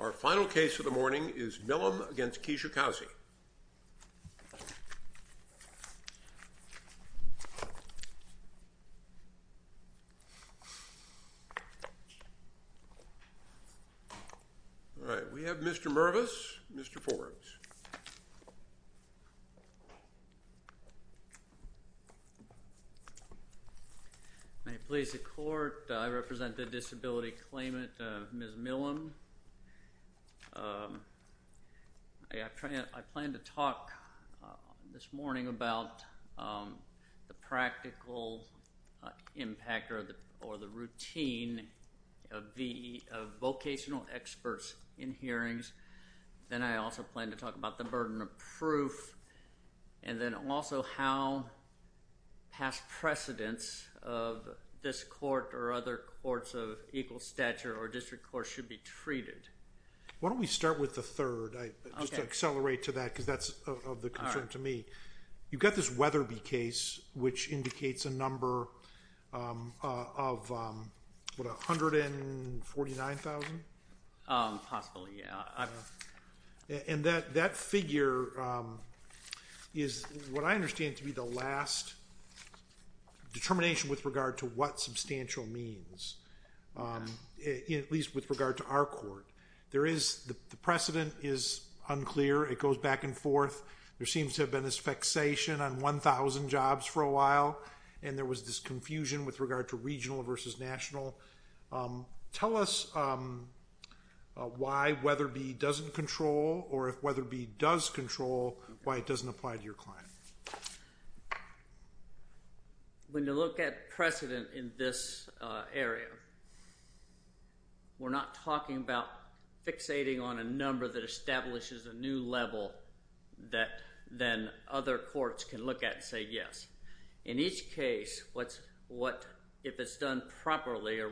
Our final case of the morning is Milhem v. Kijakazi. All right, we have Mr. Mervis, Mr. Forbes. May it please the court, I represent the disability claimant, Ms. Milhem. I plan to talk this morning about the practical impact or the routine of the vocational experts in hearings. Then I also plan to talk about the burden of proof, and then also how past precedents of this court or other courts of equal stature or district courts should be treated. Why don't we start with the third, just to accelerate to that because that's of concern to me. You've got this Weatherby case, which indicates a number of 149,000? Possibly, yeah. And that figure is what I understand to be the last determination with regard to what substantial means, at least with regard to our court. The precedent is unclear. It goes back and forth. There seems to have been this fixation on 1,000 jobs for a while, and there was this confusion with regard to regional versus national. Tell us why Weatherby doesn't control, or if Weatherby does control, why it doesn't apply to your client. When you look at precedent in this area, we're not talking about fixating on a number that establishes a new level that then other courts can look at and say yes. In each case, if it's done properly or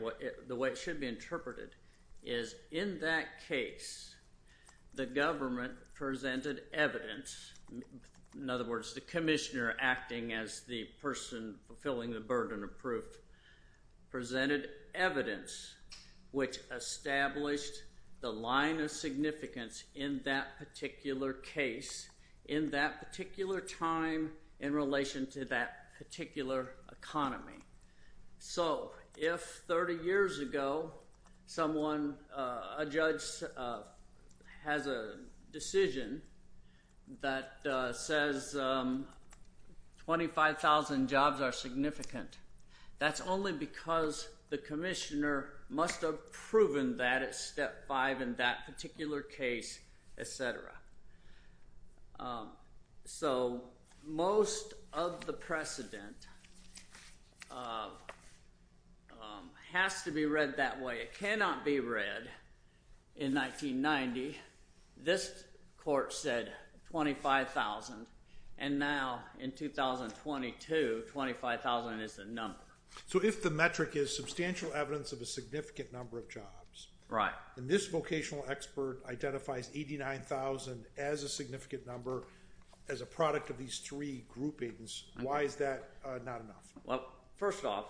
the way it should be interpreted is in that case, the government presented evidence. In other words, the commissioner acting as the person fulfilling the burden of proof presented evidence which established the line of significance in that particular case, in that particular time, in relation to that particular economy. So if 30 years ago a judge has a decision that says 25,000 jobs are significant, that's only because the commissioner must have proven that at step five in that particular case, etc. So most of the precedent has to be read that way. It cannot be read in 1990, this court said 25,000, and now in 2022, 25,000 is the number. So if the metric is substantial evidence of a significant number of jobs, and this vocational expert identifies 89,000 as a significant number, as a product of these three groupings, why is that not enough? Well, first off,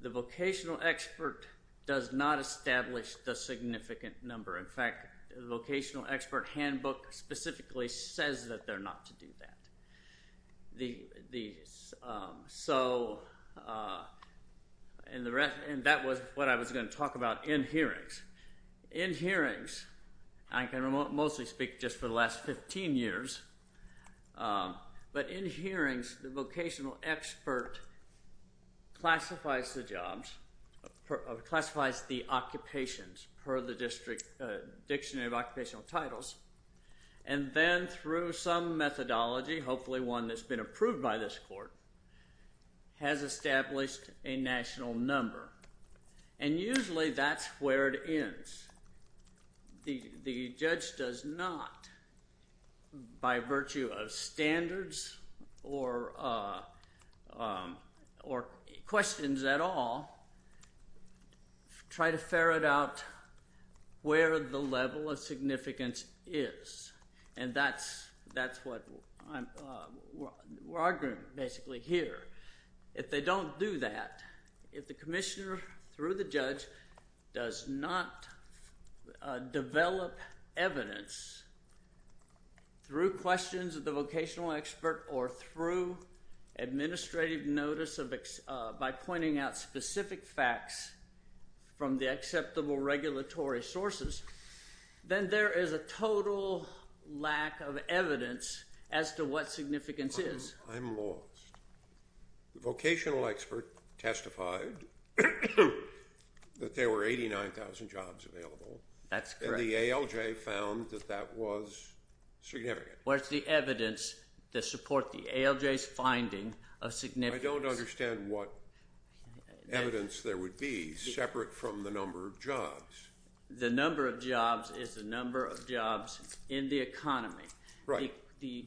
the vocational expert does not establish the significant number. In fact, the vocational expert handbook specifically says that they're not to do that. So that was what I was going to talk about in hearings. In hearings, I can mostly speak just for the last 15 years, but in hearings, the vocational expert classifies the jobs, classifies the occupations per the Dictionary of Occupational Titles, and then through some methodology, hopefully one that's been approved by this court, has established a national number, and usually that's where it ends. The judge does not, by virtue of standards or questions at all, try to ferret out where the level of significance is, and that's what we're arguing basically here. If they don't do that, if the commissioner through the judge does not develop evidence through questions of the vocational expert or through administrative notice by pointing out specific facts from the acceptable regulatory sources, then there is a total lack of evidence as to what significance is. I'm lost. The vocational expert testified that there were 89,000 jobs available. That's correct. And the ALJ found that that was significant. Well, it's the evidence to support the ALJ's finding of significance. I don't understand what evidence there would be separate from the number of jobs. The number of jobs is the number of jobs in the economy. Right.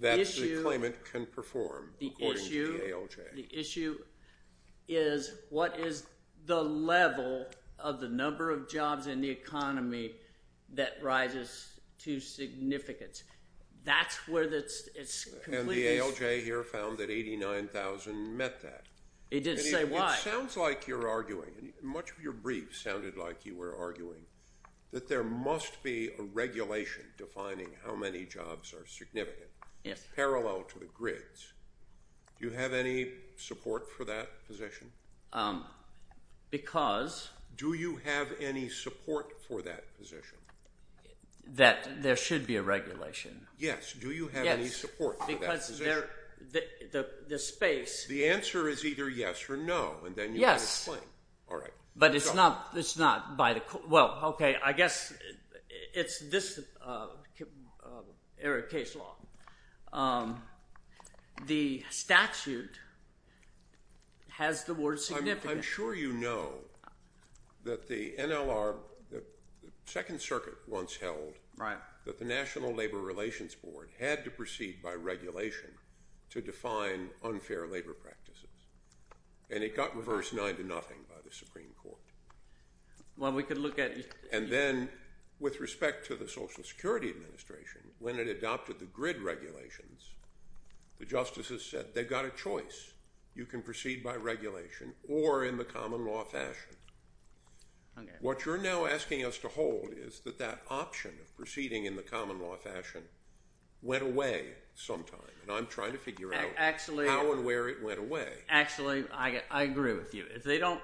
That the claimant can perform, according to the ALJ. The issue is what is the level of the number of jobs in the economy that rises to significance. That's where it's completely… And the ALJ here found that 89,000 met that. It didn't say why. Much of your brief sounded like you were arguing that there must be a regulation defining how many jobs are significant. Yes. Parallel to the grids. Do you have any support for that position? Because… Do you have any support for that position? That there should be a regulation? Yes. Do you have any support for that position? Yes, because the space… The answer is either yes or no, and then you make a claim. Yes. All right. But it's not by the – well, okay, I guess it's this area of case law. The statute has the word significant. I'm sure you know that the NLR – the Second Circuit once held that the National Labor Relations Board had to proceed by regulation to define unfair labor practices, and it got reversed 9 to nothing by the Supreme Court. Well, we could look at… And then with respect to the Social Security Administration, when it adopted the grid regulations, the justices said they've got a choice. You can proceed by regulation or in the common law fashion. What you're now asking us to hold is that that option of proceeding in the common law fashion went away sometime, and I'm trying to figure out how and where it went away. Actually, I agree with you. If they don't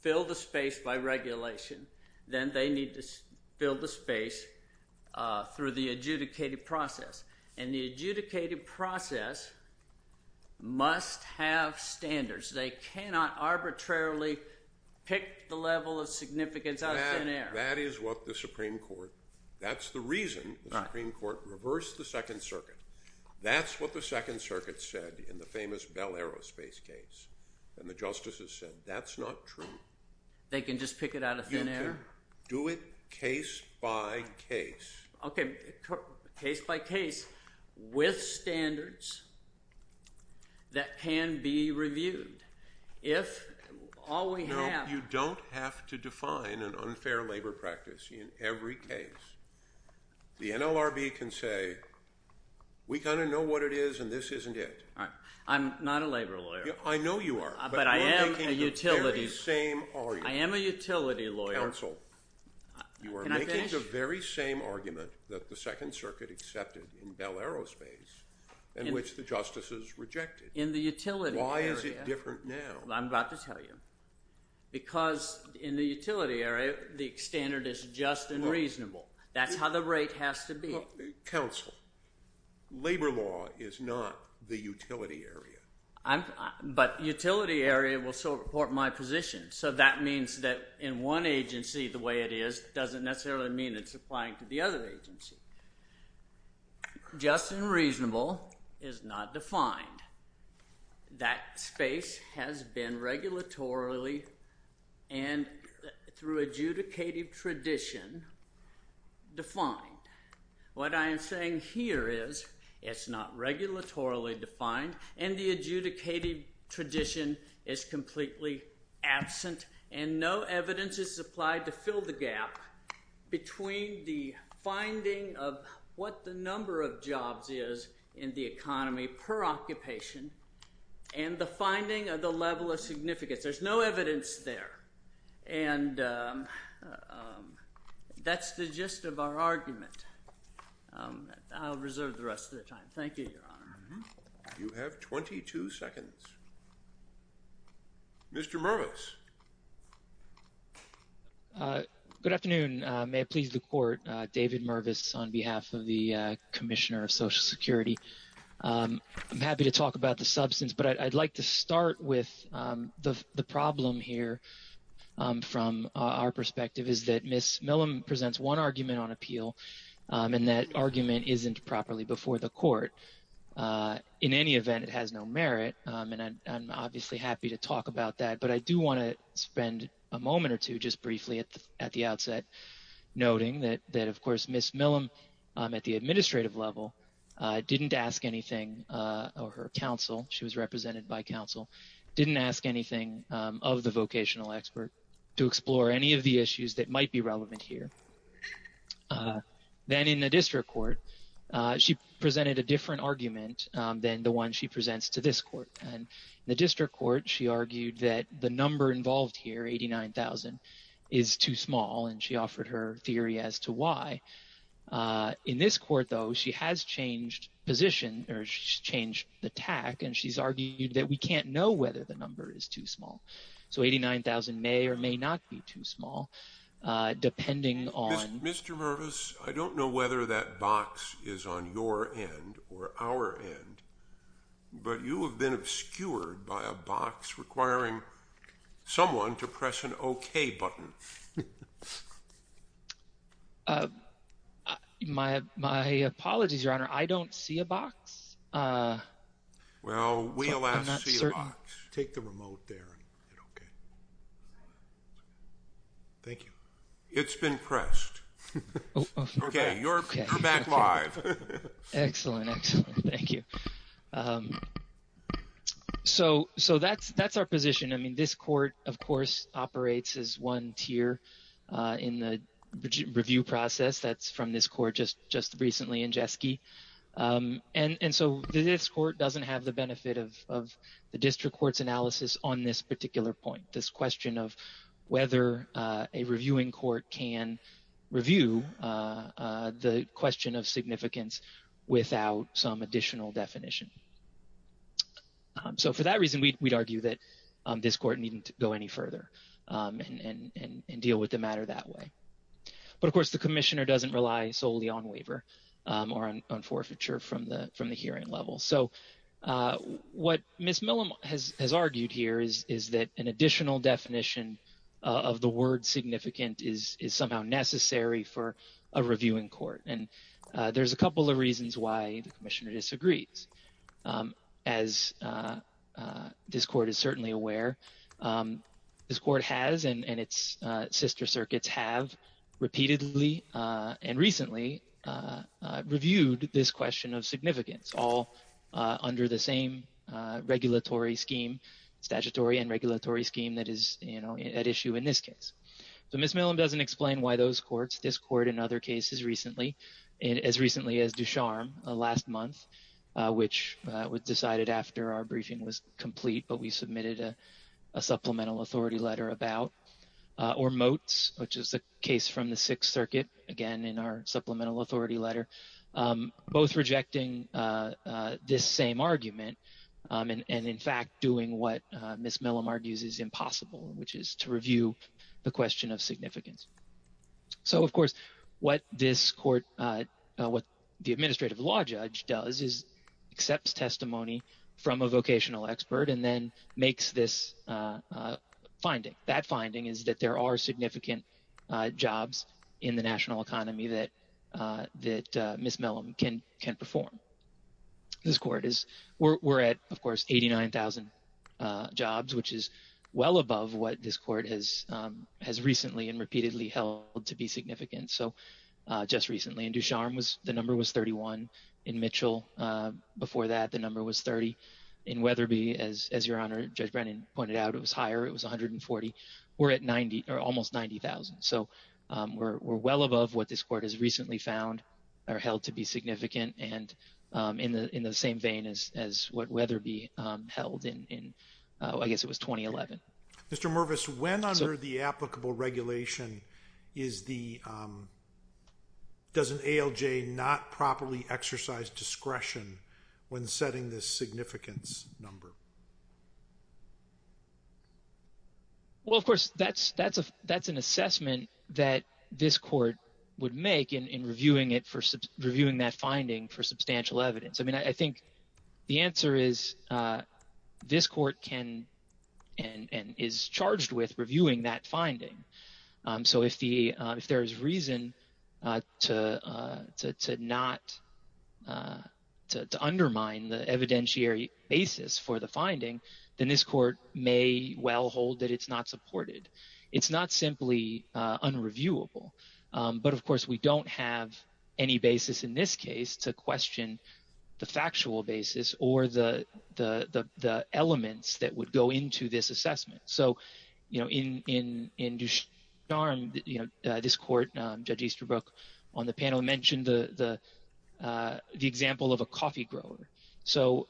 fill the space by regulation, then they need to fill the space through the adjudicated process, and the adjudicated process must have standards. They cannot arbitrarily pick the level of significance out of thin air. That is what the Supreme Court – that's the reason the Supreme Court reversed the Second Circuit. That's what the Second Circuit said in the famous Bell Aerospace case, and the justices said that's not true. They can just pick it out of thin air? You can do it case by case. Okay, case by case with standards that can be reviewed if all we have… We kind of know what it is, and this isn't it. I'm not a labor lawyer. I know you are. But I am a utility lawyer. I am a utility lawyer. Counsel, you are making the very same argument that the Second Circuit accepted in Bell Aerospace in which the justices rejected. In the utility area. Why is it different now? I'm about to tell you. Because in the utility area, the standard is just and reasonable. That's how the rate has to be. Counsel, labor law is not the utility area. But utility area will support my position, so that means that in one agency the way it is doesn't necessarily mean it's applying to the other agency. Just and reasonable is not defined. That space has been regulatorily and through adjudicative tradition defined. What I am saying here is it's not regulatorily defined, and the adjudicated tradition is completely absent, and no evidence is supplied to fill the gap between the finding of what the number of jobs is in the economy per occupation and the finding of the level of significance. There's no evidence there. And that's the gist of our argument. I'll reserve the rest of the time. Thank you, Your Honor. You have 22 seconds. Mr. Mervis. Good afternoon. May it please the Court. David Mervis on behalf of the Commissioner of Social Security. I'm happy to talk about the substance, but I'd like to start with the problem here from our perspective, is that Ms. Millum presents one argument on appeal, and that argument isn't properly before the Court. In any event, it has no merit, and I'm obviously happy to talk about that. But I do want to spend a moment or two just briefly at the outset noting that, of course, Ms. Millum at the administrative level didn't ask anything of her counsel. She was represented by counsel. Didn't ask anything of the vocational expert to explore any of the issues that might be relevant here. Then in the district court, she presented a different argument than the one she presents to this court. In the district court, she argued that the number involved here, 89,000, is too small, and she offered her theory as to why. In this court, though, she has changed position, or she's changed the tack, and she's argued that we can't know whether the number is too small. So 89,000 may or may not be too small, depending on— Mr. Mervis, I don't know whether that box is on your end or our end, but you have been obscured by a box requiring someone to press an okay button. My apologies, Your Honor. I don't see a box. Well, we alas see a box. Take the remote there and hit okay. Thank you. It's been pressed. Okay, you're back live. Excellent, excellent. Thank you. So that's our position. I mean, this court, of course, operates as one tier in the review process. That's from this court just recently in Jeske. And so this court doesn't have the benefit of the district court's analysis on this particular point, this question of whether a reviewing court can review the question of significance without some additional definition. So for that reason, we'd argue that this court needn't go any further and deal with the matter that way. But, of course, the commissioner doesn't rely solely on waiver or on forfeiture from the hearing level. So what Ms. Millam has argued here is that an additional definition of the word significant is somehow necessary for a reviewing court. And there's a couple of reasons why the commissioner disagrees. As this court is certainly aware, this court has and its sister circuits have repeatedly and recently reviewed this question of significance, all under the same regulatory scheme, statutory and regulatory scheme that is at issue in this case. So Ms. Millam doesn't explain why those courts, this court and other cases recently, as recently as Ducharme last month, which was decided after our briefing was complete, but we submitted a supplemental authority letter about, or motes, which is the case from the Sixth Circuit, again, in our supplemental authority letter, both rejecting this same argument and in fact doing what Ms. Millam argues is impossible, which is to review the question of significance. So, of course, what this court, what the administrative law judge does is accepts testimony from a vocational expert and then makes this finding. That finding is that there are significant jobs in the national economy that Ms. Millam can perform. This court is, we're at, of course, 89,000 jobs, which is well above what this court has recently and repeatedly held to be significant. So just recently in Ducharme, the number was 31. In Mitchell, before that, the number was 30. In Weatherby, as your Honor, Judge Brennan pointed out, it was higher. It was 140. We're at 90 or almost 90,000. So we're well above what this court has recently found or held to be significant and in the same vein as what Weatherby held in, I guess it was 2011. Mr. Mervis, when under the applicable regulation does an ALJ not properly exercise discretion when setting this significance number? Well, of course, that's an assessment that this court would make in reviewing that finding for substantial evidence. I mean, I think the answer is this court can and is charged with reviewing that finding. So if there is reason to undermine the evidentiary basis for the finding, then this court may well hold that it's not supported. It's not simply unreviewable. But, of course, we don't have any basis in this case to question the factual basis or the elements that would go into this assessment. So in Ducharme, this court, Judge Easterbrook, on the panel mentioned the example of a coffee grower. So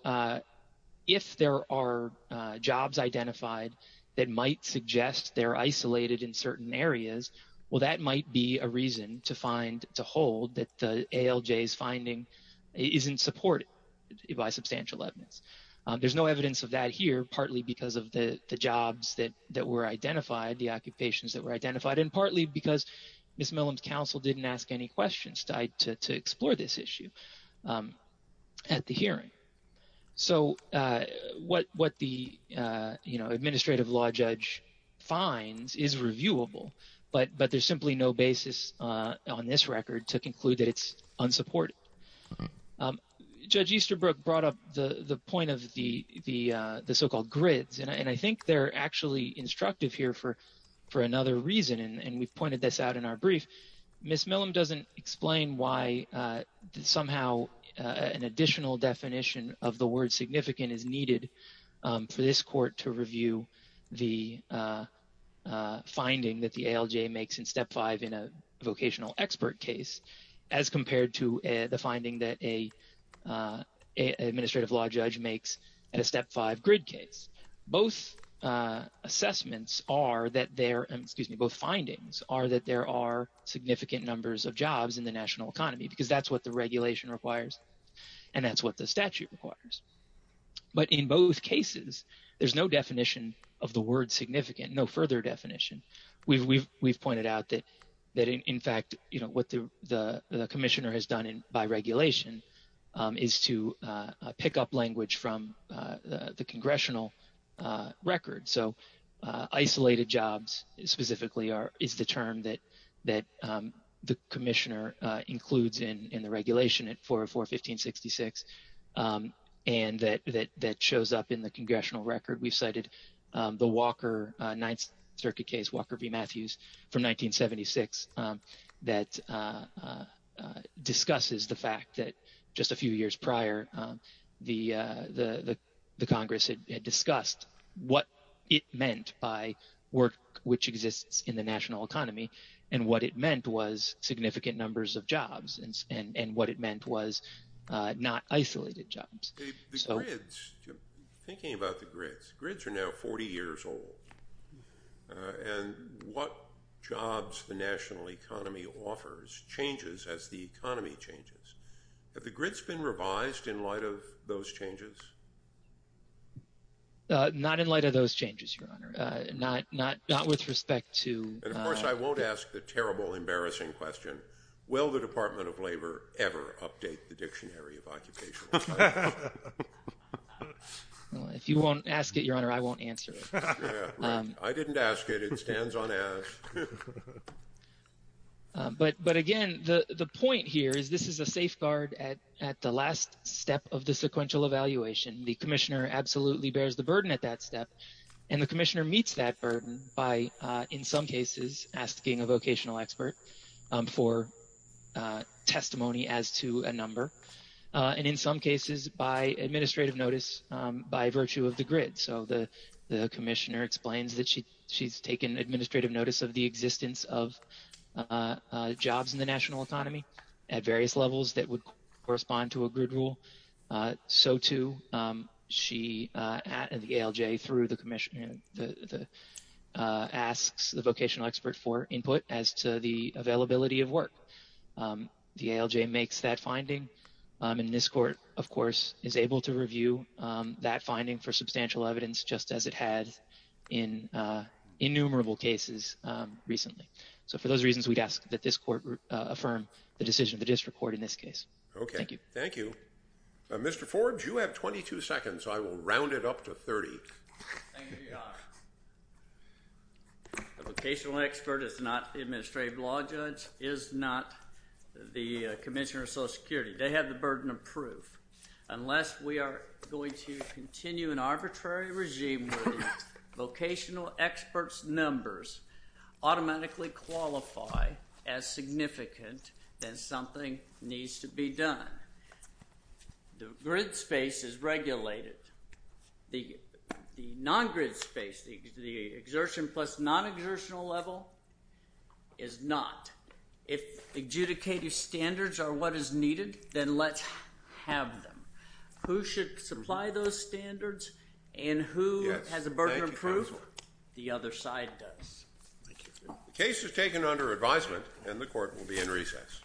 if there are jobs identified that might suggest they're isolated in certain areas, well, that might be a reason to hold that the ALJ's finding isn't supported by substantial evidence. There's no evidence of that here, partly because of the jobs that were identified, the occupations that were identified, and partly because Ms. Millam's counsel didn't ask any questions to explore this issue. At the hearing. So what the administrative law judge finds is reviewable, but there's simply no basis on this record to conclude that it's unsupported. Judge Easterbrook brought up the point of the so-called grids, and I think they're actually instructive here for another reason, and we've pointed this out in our brief. Ms. Millam doesn't explain why somehow an additional definition of the word significant is needed for this court to review the finding that the ALJ makes in Step 5 in a vocational expert case as compared to the finding that an administrative law judge makes in a Step 5 grid case. Both assessments are that there – excuse me, both findings are that there are significant numbers of jobs in the national economy because that's what the regulation requires and that's what the statute requires. But in both cases, there's no definition of the word significant, no further definition. We've pointed out that, in fact, what the commissioner has done by regulation is to pick up language from the congressional record. So isolated jobs specifically is the term that the commissioner includes in the regulation at 404-1566 and that shows up in the congressional record. We've cited the Walker Ninth Circuit case, Walker v. Matthews from 1976, that discusses the fact that just a few years prior, the Congress had discussed what it meant by work which exists in the national economy and what it meant was significant numbers of jobs and what it meant was not isolated jobs. The grids, thinking about the grids, grids are now 40 years old and what jobs the national economy offers changes as the economy changes. Have the grids been revised in light of those changes? Not in light of those changes, Your Honor. Not with respect to – Of course, I won't ask the terrible, embarrassing question, will the Department of Labor ever update the Dictionary of Occupational Safety? If you won't ask it, Your Honor, I won't answer it. I didn't ask it. It stands unasked. But again, the point here is this is a safeguard at the last step of the sequential evaluation. The commissioner absolutely bears the burden at that step and the commissioner meets that burden by, in some cases, asking a vocational expert for testimony as to a number and in some cases by administrative notice by virtue of the grid. So the commissioner explains that she's taken administrative notice of the existence of jobs in the national economy at various levels that would correspond to a grid rule. So, too, the ALJ through the commissioner asks the vocational expert for input as to the availability of work. The ALJ makes that finding and this court, of course, is able to review that finding for substantial evidence just as it has in innumerable cases recently. So for those reasons, we'd ask that this court affirm the decision of the district court in this case. Okay. Thank you. Thank you. Mr. Forbes, you have 22 seconds. I will round it up to 30. Thank you, Your Honor. A vocational expert is not the administrative law judge, is not the commissioner of Social Security. They have the burden of proof. Unless we are going to continue an arbitrary regime where the vocational expert's numbers automatically qualify as significant, then something needs to be done. The grid space is regulated. The non-grid space, the exertion plus non-exertional level is not. If adjudicated standards are what is needed, then let's have them. Who should supply those standards and who has a burden of proof? The other side does. The case is taken under advisement and the court will be in recess.